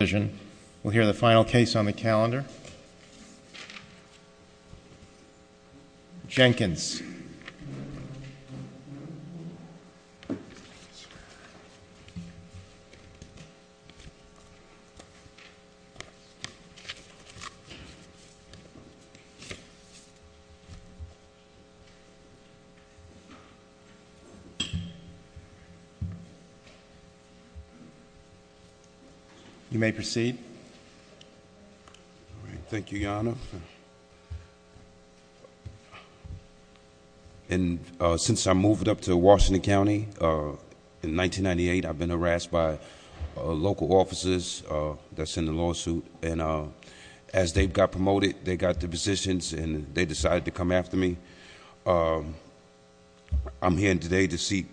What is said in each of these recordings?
We'll hear the final case on the calendar. Jenkins. You may proceed. Thank you, Your Honor. And since I moved up to Washington County in 1998, I've been harassed by local officers that's in the lawsuit. And as they got promoted, they got the positions, and they decided to come after me. I'm here today to see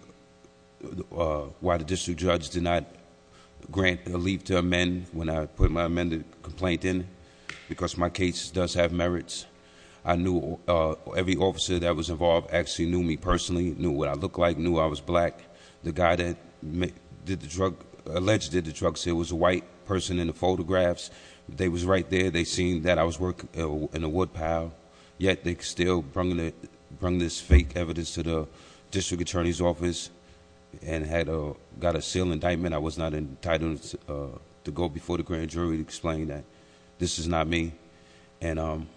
why the district judge did not grant a leave to amend when I put my amended complaint in. Because my case does have merits. I knew every officer that was involved actually knew me personally, knew what I looked like, knew I was black. The guy that allegedly did the drugs here was a white person in the photographs. They was right there, they seen that I was working in a woodpile. Yet they still bring this fake evidence to the district attorney's office and had got a seal indictment. I was not entitled to go before the grand jury to explain that this is not me. And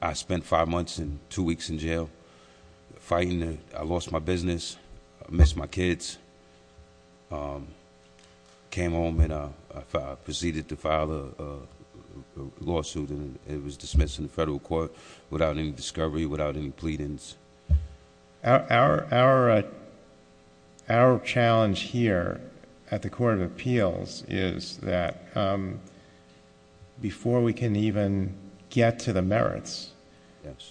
I spent five months and two weeks in jail fighting. I lost my business. I missed my kids. Came home and I proceeded to file a lawsuit, and it was dismissed in the federal court without any discovery, without any pleadings. Our challenge here at the Court of Appeals is that before we can even get to the merits.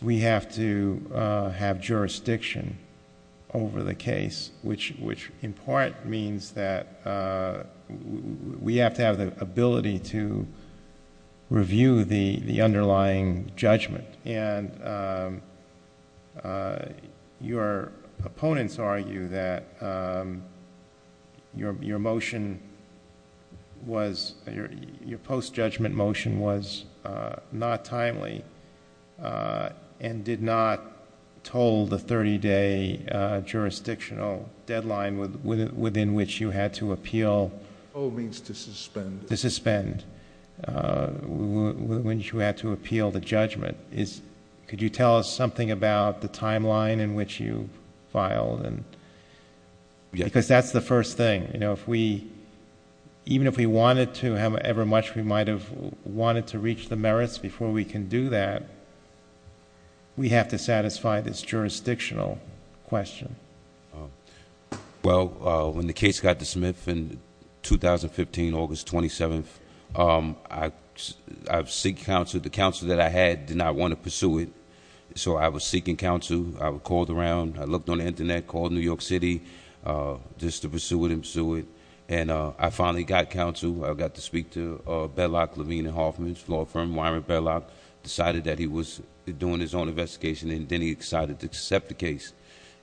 We have to have jurisdiction over the case, which in part means that we have to have the ability to review the underlying judgment. And your opponents argue that your motion was, your post-judgment motion was not timely and did not toll the 30-day jurisdictional deadline within which you had to appeal. All means to suspend. To suspend, which you had to appeal the judgment. Could you tell us something about the timeline in which you filed? And because that's the first thing. Even if we wanted to, however much we might have wanted to reach the merits before we can do that. We have to satisfy this jurisdictional question. Well, when the case got to Smith in 2015, August 27th, I seek counsel, the counsel that I had did not want to pursue it. So I was seeking counsel, I would call around, I looked on the Internet, called New York City. Just to pursue it and pursue it. And I finally got counsel, I got to speak to Bedlock, Levine and Hoffman's law firm, Wyron Bedlock. Decided that he was doing his own investigation and then he decided to accept the case.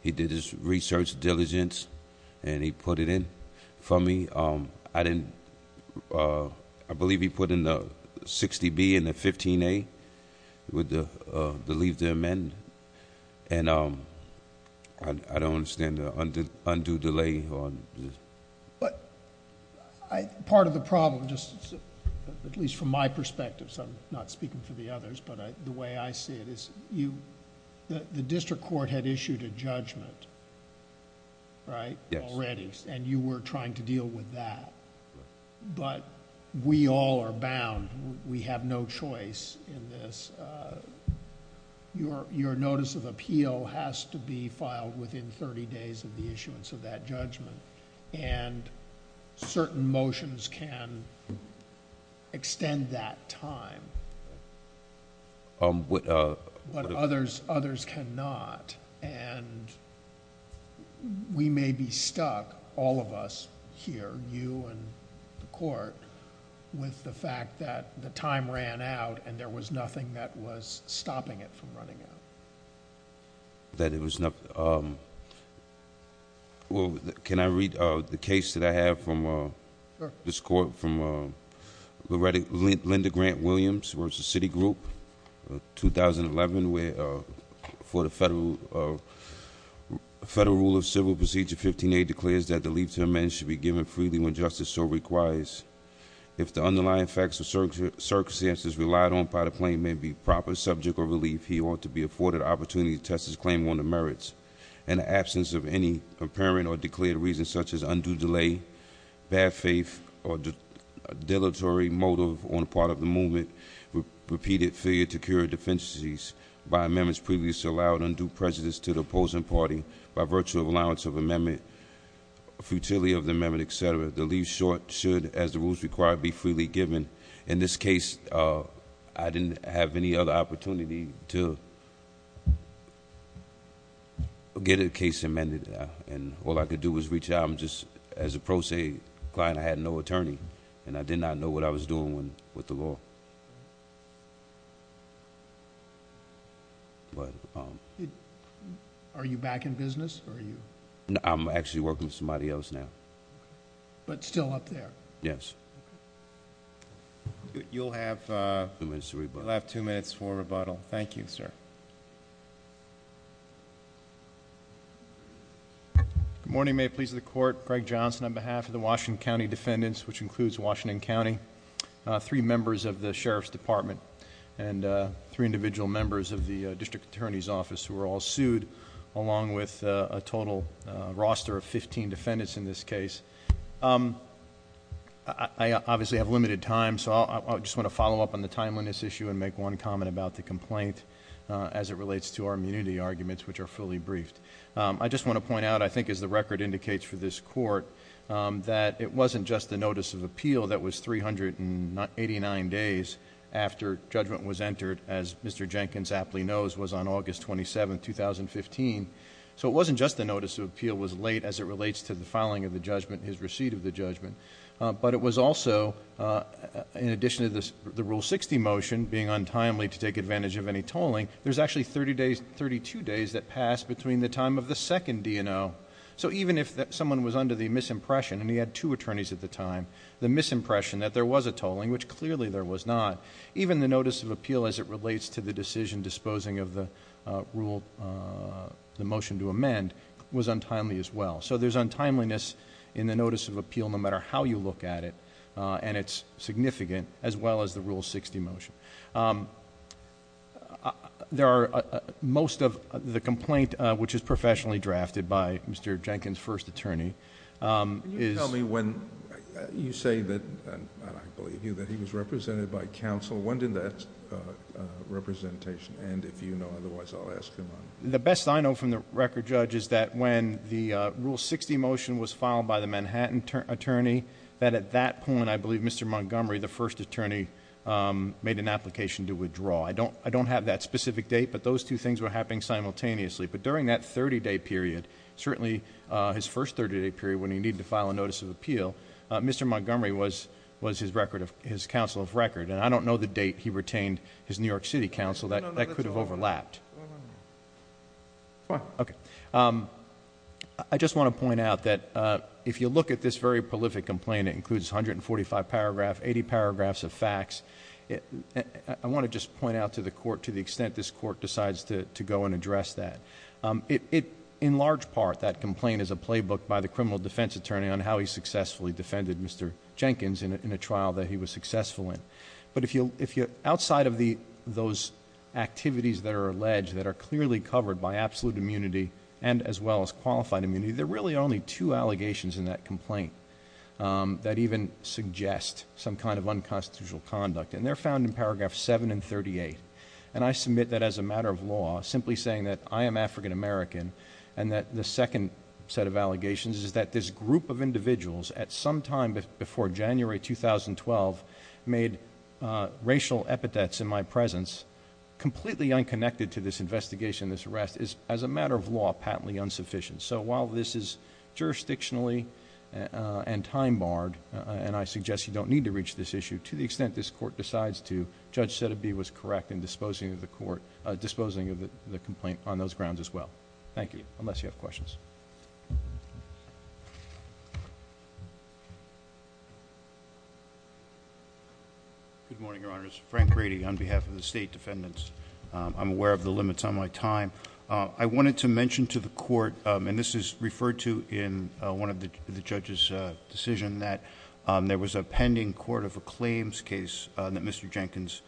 He did his research diligence and he put it in for me. I believe he put in the 60B and the 15A with the leave to amend. And I don't understand the undue delay on this. But part of the problem, just at least from my perspective, so I'm not speaking for the others, but the way I see it is the district court had issued a judgment, right? Yes. Already. And you were trying to deal with that. But we all are bound, we have no choice in this. Your notice of appeal has to be filed within thirty days of the issuance of that judgment. And certain motions can extend that time. But others cannot. And we may be stuck, all of us here, you and the court, with the fact that the time ran out and there was nothing that was stopping it from running out. That it was not, well, can I read the case that I have from this court from Linda Grant Williams, where it's a city group, 2011, where for the Federal Rule of Civil Procedure 15A, declares that the leave to amend should be given freely when justice so requires. If the underlying facts or circumstances relied on by the claim may be proper, subject, or relief, he ought to be afforded the opportunity to test his claim on the merits. In the absence of any apparent or declared reasons such as undue delay, bad faith, or deletery motive on the part of the movement, repeated failure to carry defenses by amendments previously allowed, undue prejudice to the opposing party by virtue of allowance of amendment, futility of the amendment, etc. The leave should, as the rules require, be freely given. In this case, I didn't have any other opportunity to get a case amended. And all I could do was reach out. I'm just, as a pro se client, I had no attorney. And I did not know what I was doing with the law. Are you back in business, or are you? I'm actually working with somebody else now. But still up there? Yes. You'll have two minutes for rebuttal. Thank you, sir. Good morning, may it please the court. Greg Johnson on behalf of the Washington County Defendants, which includes Washington County, three members of the Sheriff's Department, and three individual members of the District Attorney's Office, who were all sued, along with a total roster of 15 defendants in this case. I obviously have limited time, so I just want to follow up on the timeliness issue and make one comment about the complaint as it relates to our immunity arguments, which are fully briefed. I just want to point out, I think as the record indicates for this court, that it wasn't just the notice of appeal that was 389 days after judgment was entered, as Mr. Jenkins aptly knows, was on August 27th, 2015. So it wasn't just the notice of appeal was late as it relates to the filing of the judgment, his receipt of the judgment. But it was also, in addition to the Rule 60 motion being untimely to take advantage of any tolling, there's actually 32 days that passed between the time of the second DNO. So even if someone was under the misimpression, and he had two attorneys at the time, the misimpression that there was a tolling, which clearly there was not. Even the notice of appeal as it relates to the decision disposing of the rule, the motion to amend, was untimely as well. So there's untimeliness in the notice of appeal, no matter how you look at it, and it's significant, as well as the Rule 60 motion. There are most of the complaint, which is professionally drafted by Mr. Jenkins' first attorney, is- Council, when did that representation end, if you know, otherwise I'll ask him on it. The best I know from the record, Judge, is that when the Rule 60 motion was filed by the Manhattan attorney, that at that point, I believe Mr. Montgomery, the first attorney, made an application to withdraw. I don't have that specific date, but those two things were happening simultaneously. But during that 30-day period, certainly his first 30-day period when he needed to file a notice of appeal, Mr. Montgomery was his counsel of record, and I don't know the date he retained his New York City counsel. That could have overlapped. I just want to point out that if you look at this very prolific complaint, it includes 145 paragraphs, 80 paragraphs of facts. I want to just point out to the court to the extent this court decides to go and address that. In large part, that complaint is a playbook by the criminal defense attorney on how he successfully defended Mr. Jenkins in a trial that he was successful in. But if you're outside of those activities that are alleged, that are clearly covered by absolute immunity and as well as qualified immunity, there are really only two allegations in that complaint that even suggest some kind of unconstitutional conduct. And they're found in paragraph 7 and 38. And I submit that as a matter of law, simply saying that I am African American and that the second set of allegations is that this group of individuals at some time before January 2012, made racial epithets in my presence completely unconnected to this investigation, this arrest, is as a matter of law patently insufficient. So while this is jurisdictionally and time barred, and I suggest you don't need to reach this issue, to the extent this court decides to, Judge Sedabee was correct in disposing of the complaint on those grounds as well. Thank you, unless you have questions. Good morning, your honors. Frank Grady on behalf of the state defendants. I'm aware of the limits on my time. I wanted to mention to the court, and this is referred to in one of the judge's decision, that there was a pending court of claims case that Mr. Jenkins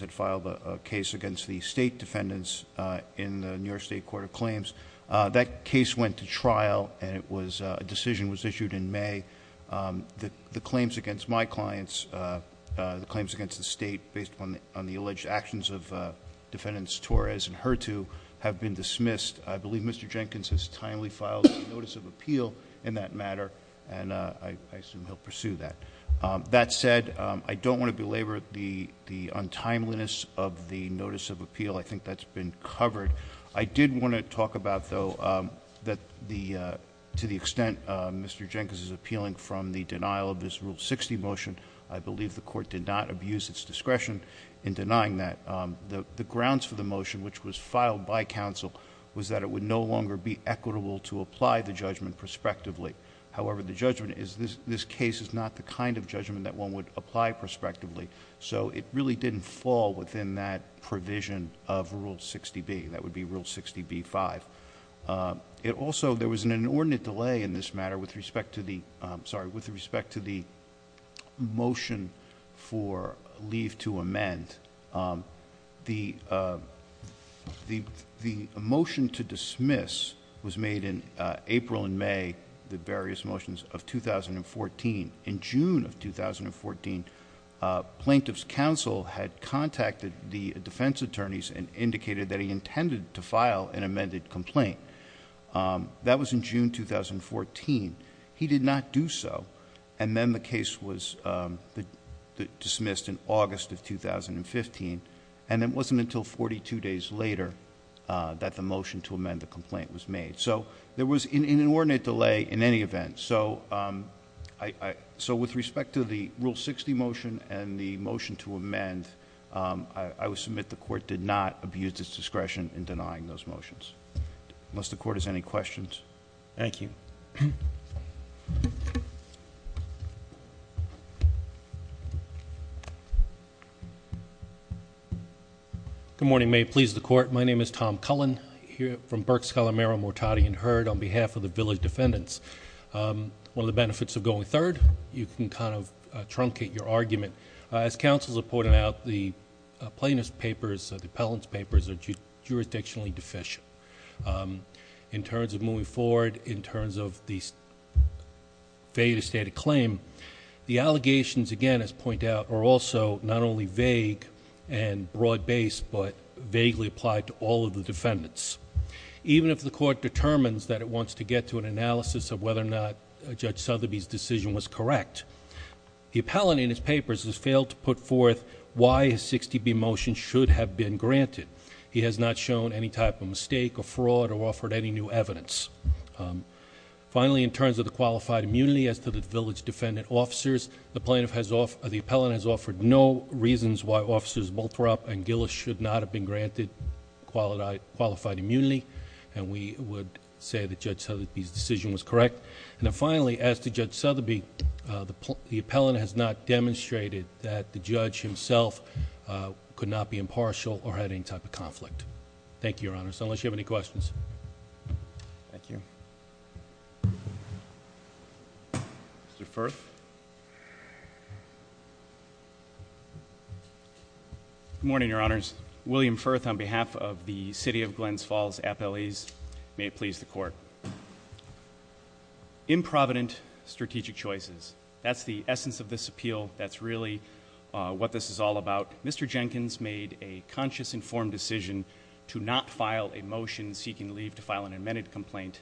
had filed, a case against the state defendants in the New York State Court of Claims. That case went to trial, and a decision was issued in May. The claims against my clients, the claims against the state, based on the alleged actions of defendants Torres and Hurtu, have been dismissed. I believe Mr. Jenkins has timely filed a notice of appeal in that matter. And I assume he'll pursue that. That said, I don't want to belabor the untimeliness of the notice of appeal. I think that's been covered. I did want to talk about, though, that to the extent Mr. Jenkins is appealing from the denial of this Rule 60 motion. I believe the court did not abuse its discretion in denying that. The grounds for the motion, which was filed by counsel, was that it would no longer be equitable to apply the judgment prospectively. However, the judgment is, this case is not the kind of judgment that one would apply prospectively. So it really didn't fall within that provision of Rule 60B, that would be Rule 60B-5. It also, there was an inordinate delay in this matter with respect to the motion for leave to amend. The motion to dismiss was made in April and May, the various motions of 2014. In June of 2014, Plaintiff's Counsel had contacted the defense attorneys and indicated that he intended to file an amended complaint. That was in June 2014. He did not do so. And then the case was dismissed in August of 2015. And it wasn't until 42 days later that the motion to amend the complaint was made. So there was an inordinate delay in any event. So with respect to the Rule 60 motion and the motion to amend, I would submit the court did not abuse its discretion in denying those motions. Unless the court has any questions. Thank you. Good morning, may it please the court. My name is Tom Cullen, here from Burke Scholar Merrill Mortardy and Heard on behalf of the village defendants. One of the benefits of going third, you can kind of truncate your argument. As counsels have pointed out, the plaintiff's papers, the appellant's papers are jurisdictionally deficient. In terms of moving forward, in terms of the failure to state a claim. The allegations, again, as pointed out, are also not only vague and broad based, but vaguely applied to all of the defendants. Even if the court determines that it wants to get to an analysis of whether or not Judge Sotheby's decision was correct, the appellant in his papers has failed to put forth why a 60B motion should have been granted. He has not shown any type of mistake or fraud or offered any new evidence. Finally, in terms of the qualified immunity as to the village defendant officers, the appellant has offered no reasons why officers Bothrop and Gillis should not have been granted qualified immunity. And we would say that Judge Sotheby's decision was correct. And then finally, as to Judge Sotheby, the appellant has not demonstrated that the judge himself could not be impartial or had any type of conflict. Thank you, Your Honor, so unless you have any questions. Thank you. Mr. Firth. Good morning, Your Honors. William Firth on behalf of the City of Glens Falls Appellees. May it please the court. Improvident strategic choices. That's the essence of this appeal. That's really what this is all about. Mr. Jenkins made a conscious, informed decision to not file a motion seeking leave to file an amended complaint.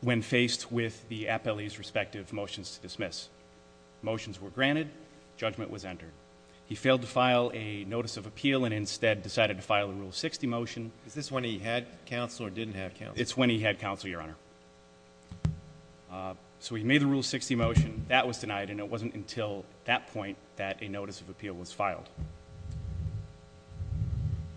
When faced with the appellee's respective motions to dismiss. Motions were granted, judgment was entered. He failed to file a notice of appeal and instead decided to file a Rule 60 motion. Is this when he had counsel or didn't have counsel? It's when he had counsel, Your Honor. So he made the Rule 60 motion. That was denied and it wasn't until that point that a notice of appeal was filed.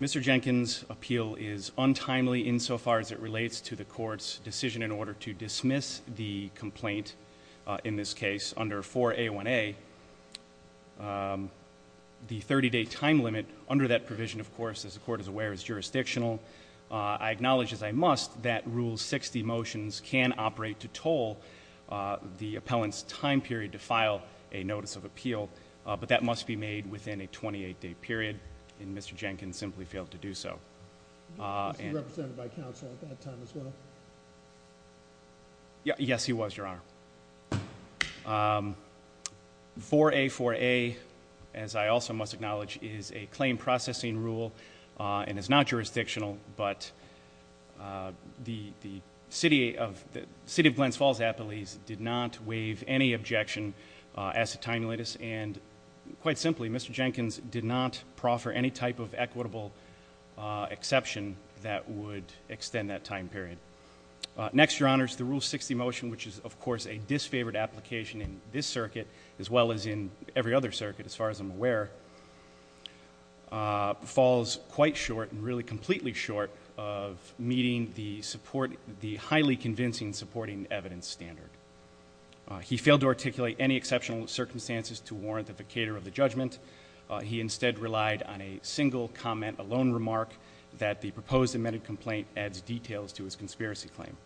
Mr. Jenkins' appeal is untimely insofar as it relates to the court's decision in order to dismiss the complaint. In this case, under 4A1A, the 30 day time limit under that provision, of course, as the court is aware, is jurisdictional. I acknowledge, as I must, that Rule 60 motions can operate to toll the appellant's time period to file a notice of appeal. But that must be made within a 28 day period, and Mr. Jenkins simply failed to do so. Was he represented by counsel at that time as well? Yes, he was, Your Honor. 4A4A, as I also must acknowledge, is a claim processing rule. And it's not jurisdictional, but the City of Glens Falls Appellees did not waive any objection as to time latest. And quite simply, Mr. Jenkins did not proffer any type of equitable exception that would extend that time period. Next, Your Honors, the Rule 60 motion, which is, of course, a disfavored application in this circuit, as well as in every other circuit, as far as I'm aware. Falls quite short, and really completely short of meeting the highly convincing supporting evidence standard. He failed to articulate any exceptional circumstances to warrant the vacator of the judgment. He instead relied on a single comment, a lone remark, that the proposed amended complaint adds details to his conspiracy claim.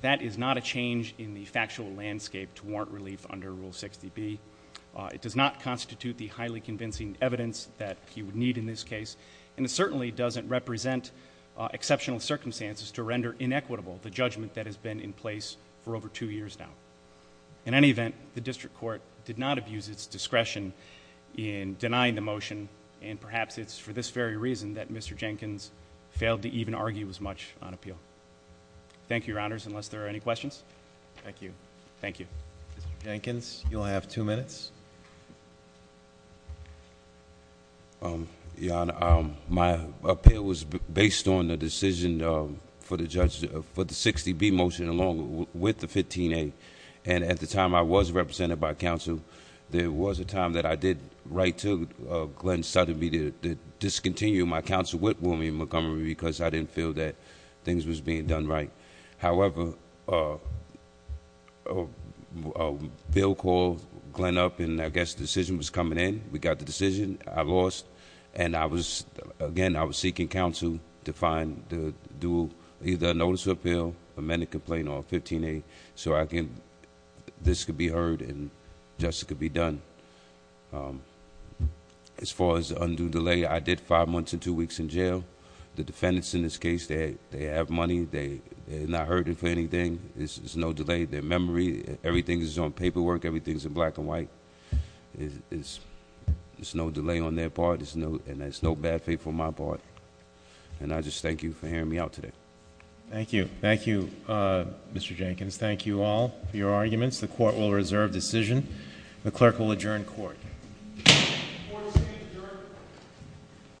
That is not a change in the factual landscape to warrant relief under Rule 60B. It does not constitute the highly convincing evidence that he would need in this case. And it certainly doesn't represent exceptional circumstances to render inequitable the judgment that has been in place for over two years now. In any event, the district court did not abuse its discretion in denying the motion. And perhaps it's for this very reason that Mr. Jenkins failed to even argue as much on appeal. Thank you, Your Honors, unless there are any questions. Thank you. Thank you. Jenkins, you'll have two minutes. Your Honor, my appeal was based on the decision for the 60B motion along with the 15A. And at the time I was represented by counsel, there was a time that I did write to Glenn Suddely to discontinue my counsel with William Montgomery because I didn't feel that things was being done right. However, Bill called Glenn up and I guess the decision was coming in. We got the decision, I lost. And again, I was seeking counsel to find to do either a notice of appeal, amended complaint, or a 15A so this could be heard and justice could be done. As far as undue delay, I did five months and two weeks in jail. The defendants in this case, they have money, they're not hurting for anything, there's no delay. Their memory, everything is on paperwork, everything's in black and white. There's no delay on their part, and there's no bad faith on my part. And I just thank you for hearing me out today. Thank you. Thank you, Mr. Jenkins. Thank you all for your arguments. The court will reserve decision. The clerk will adjourn court.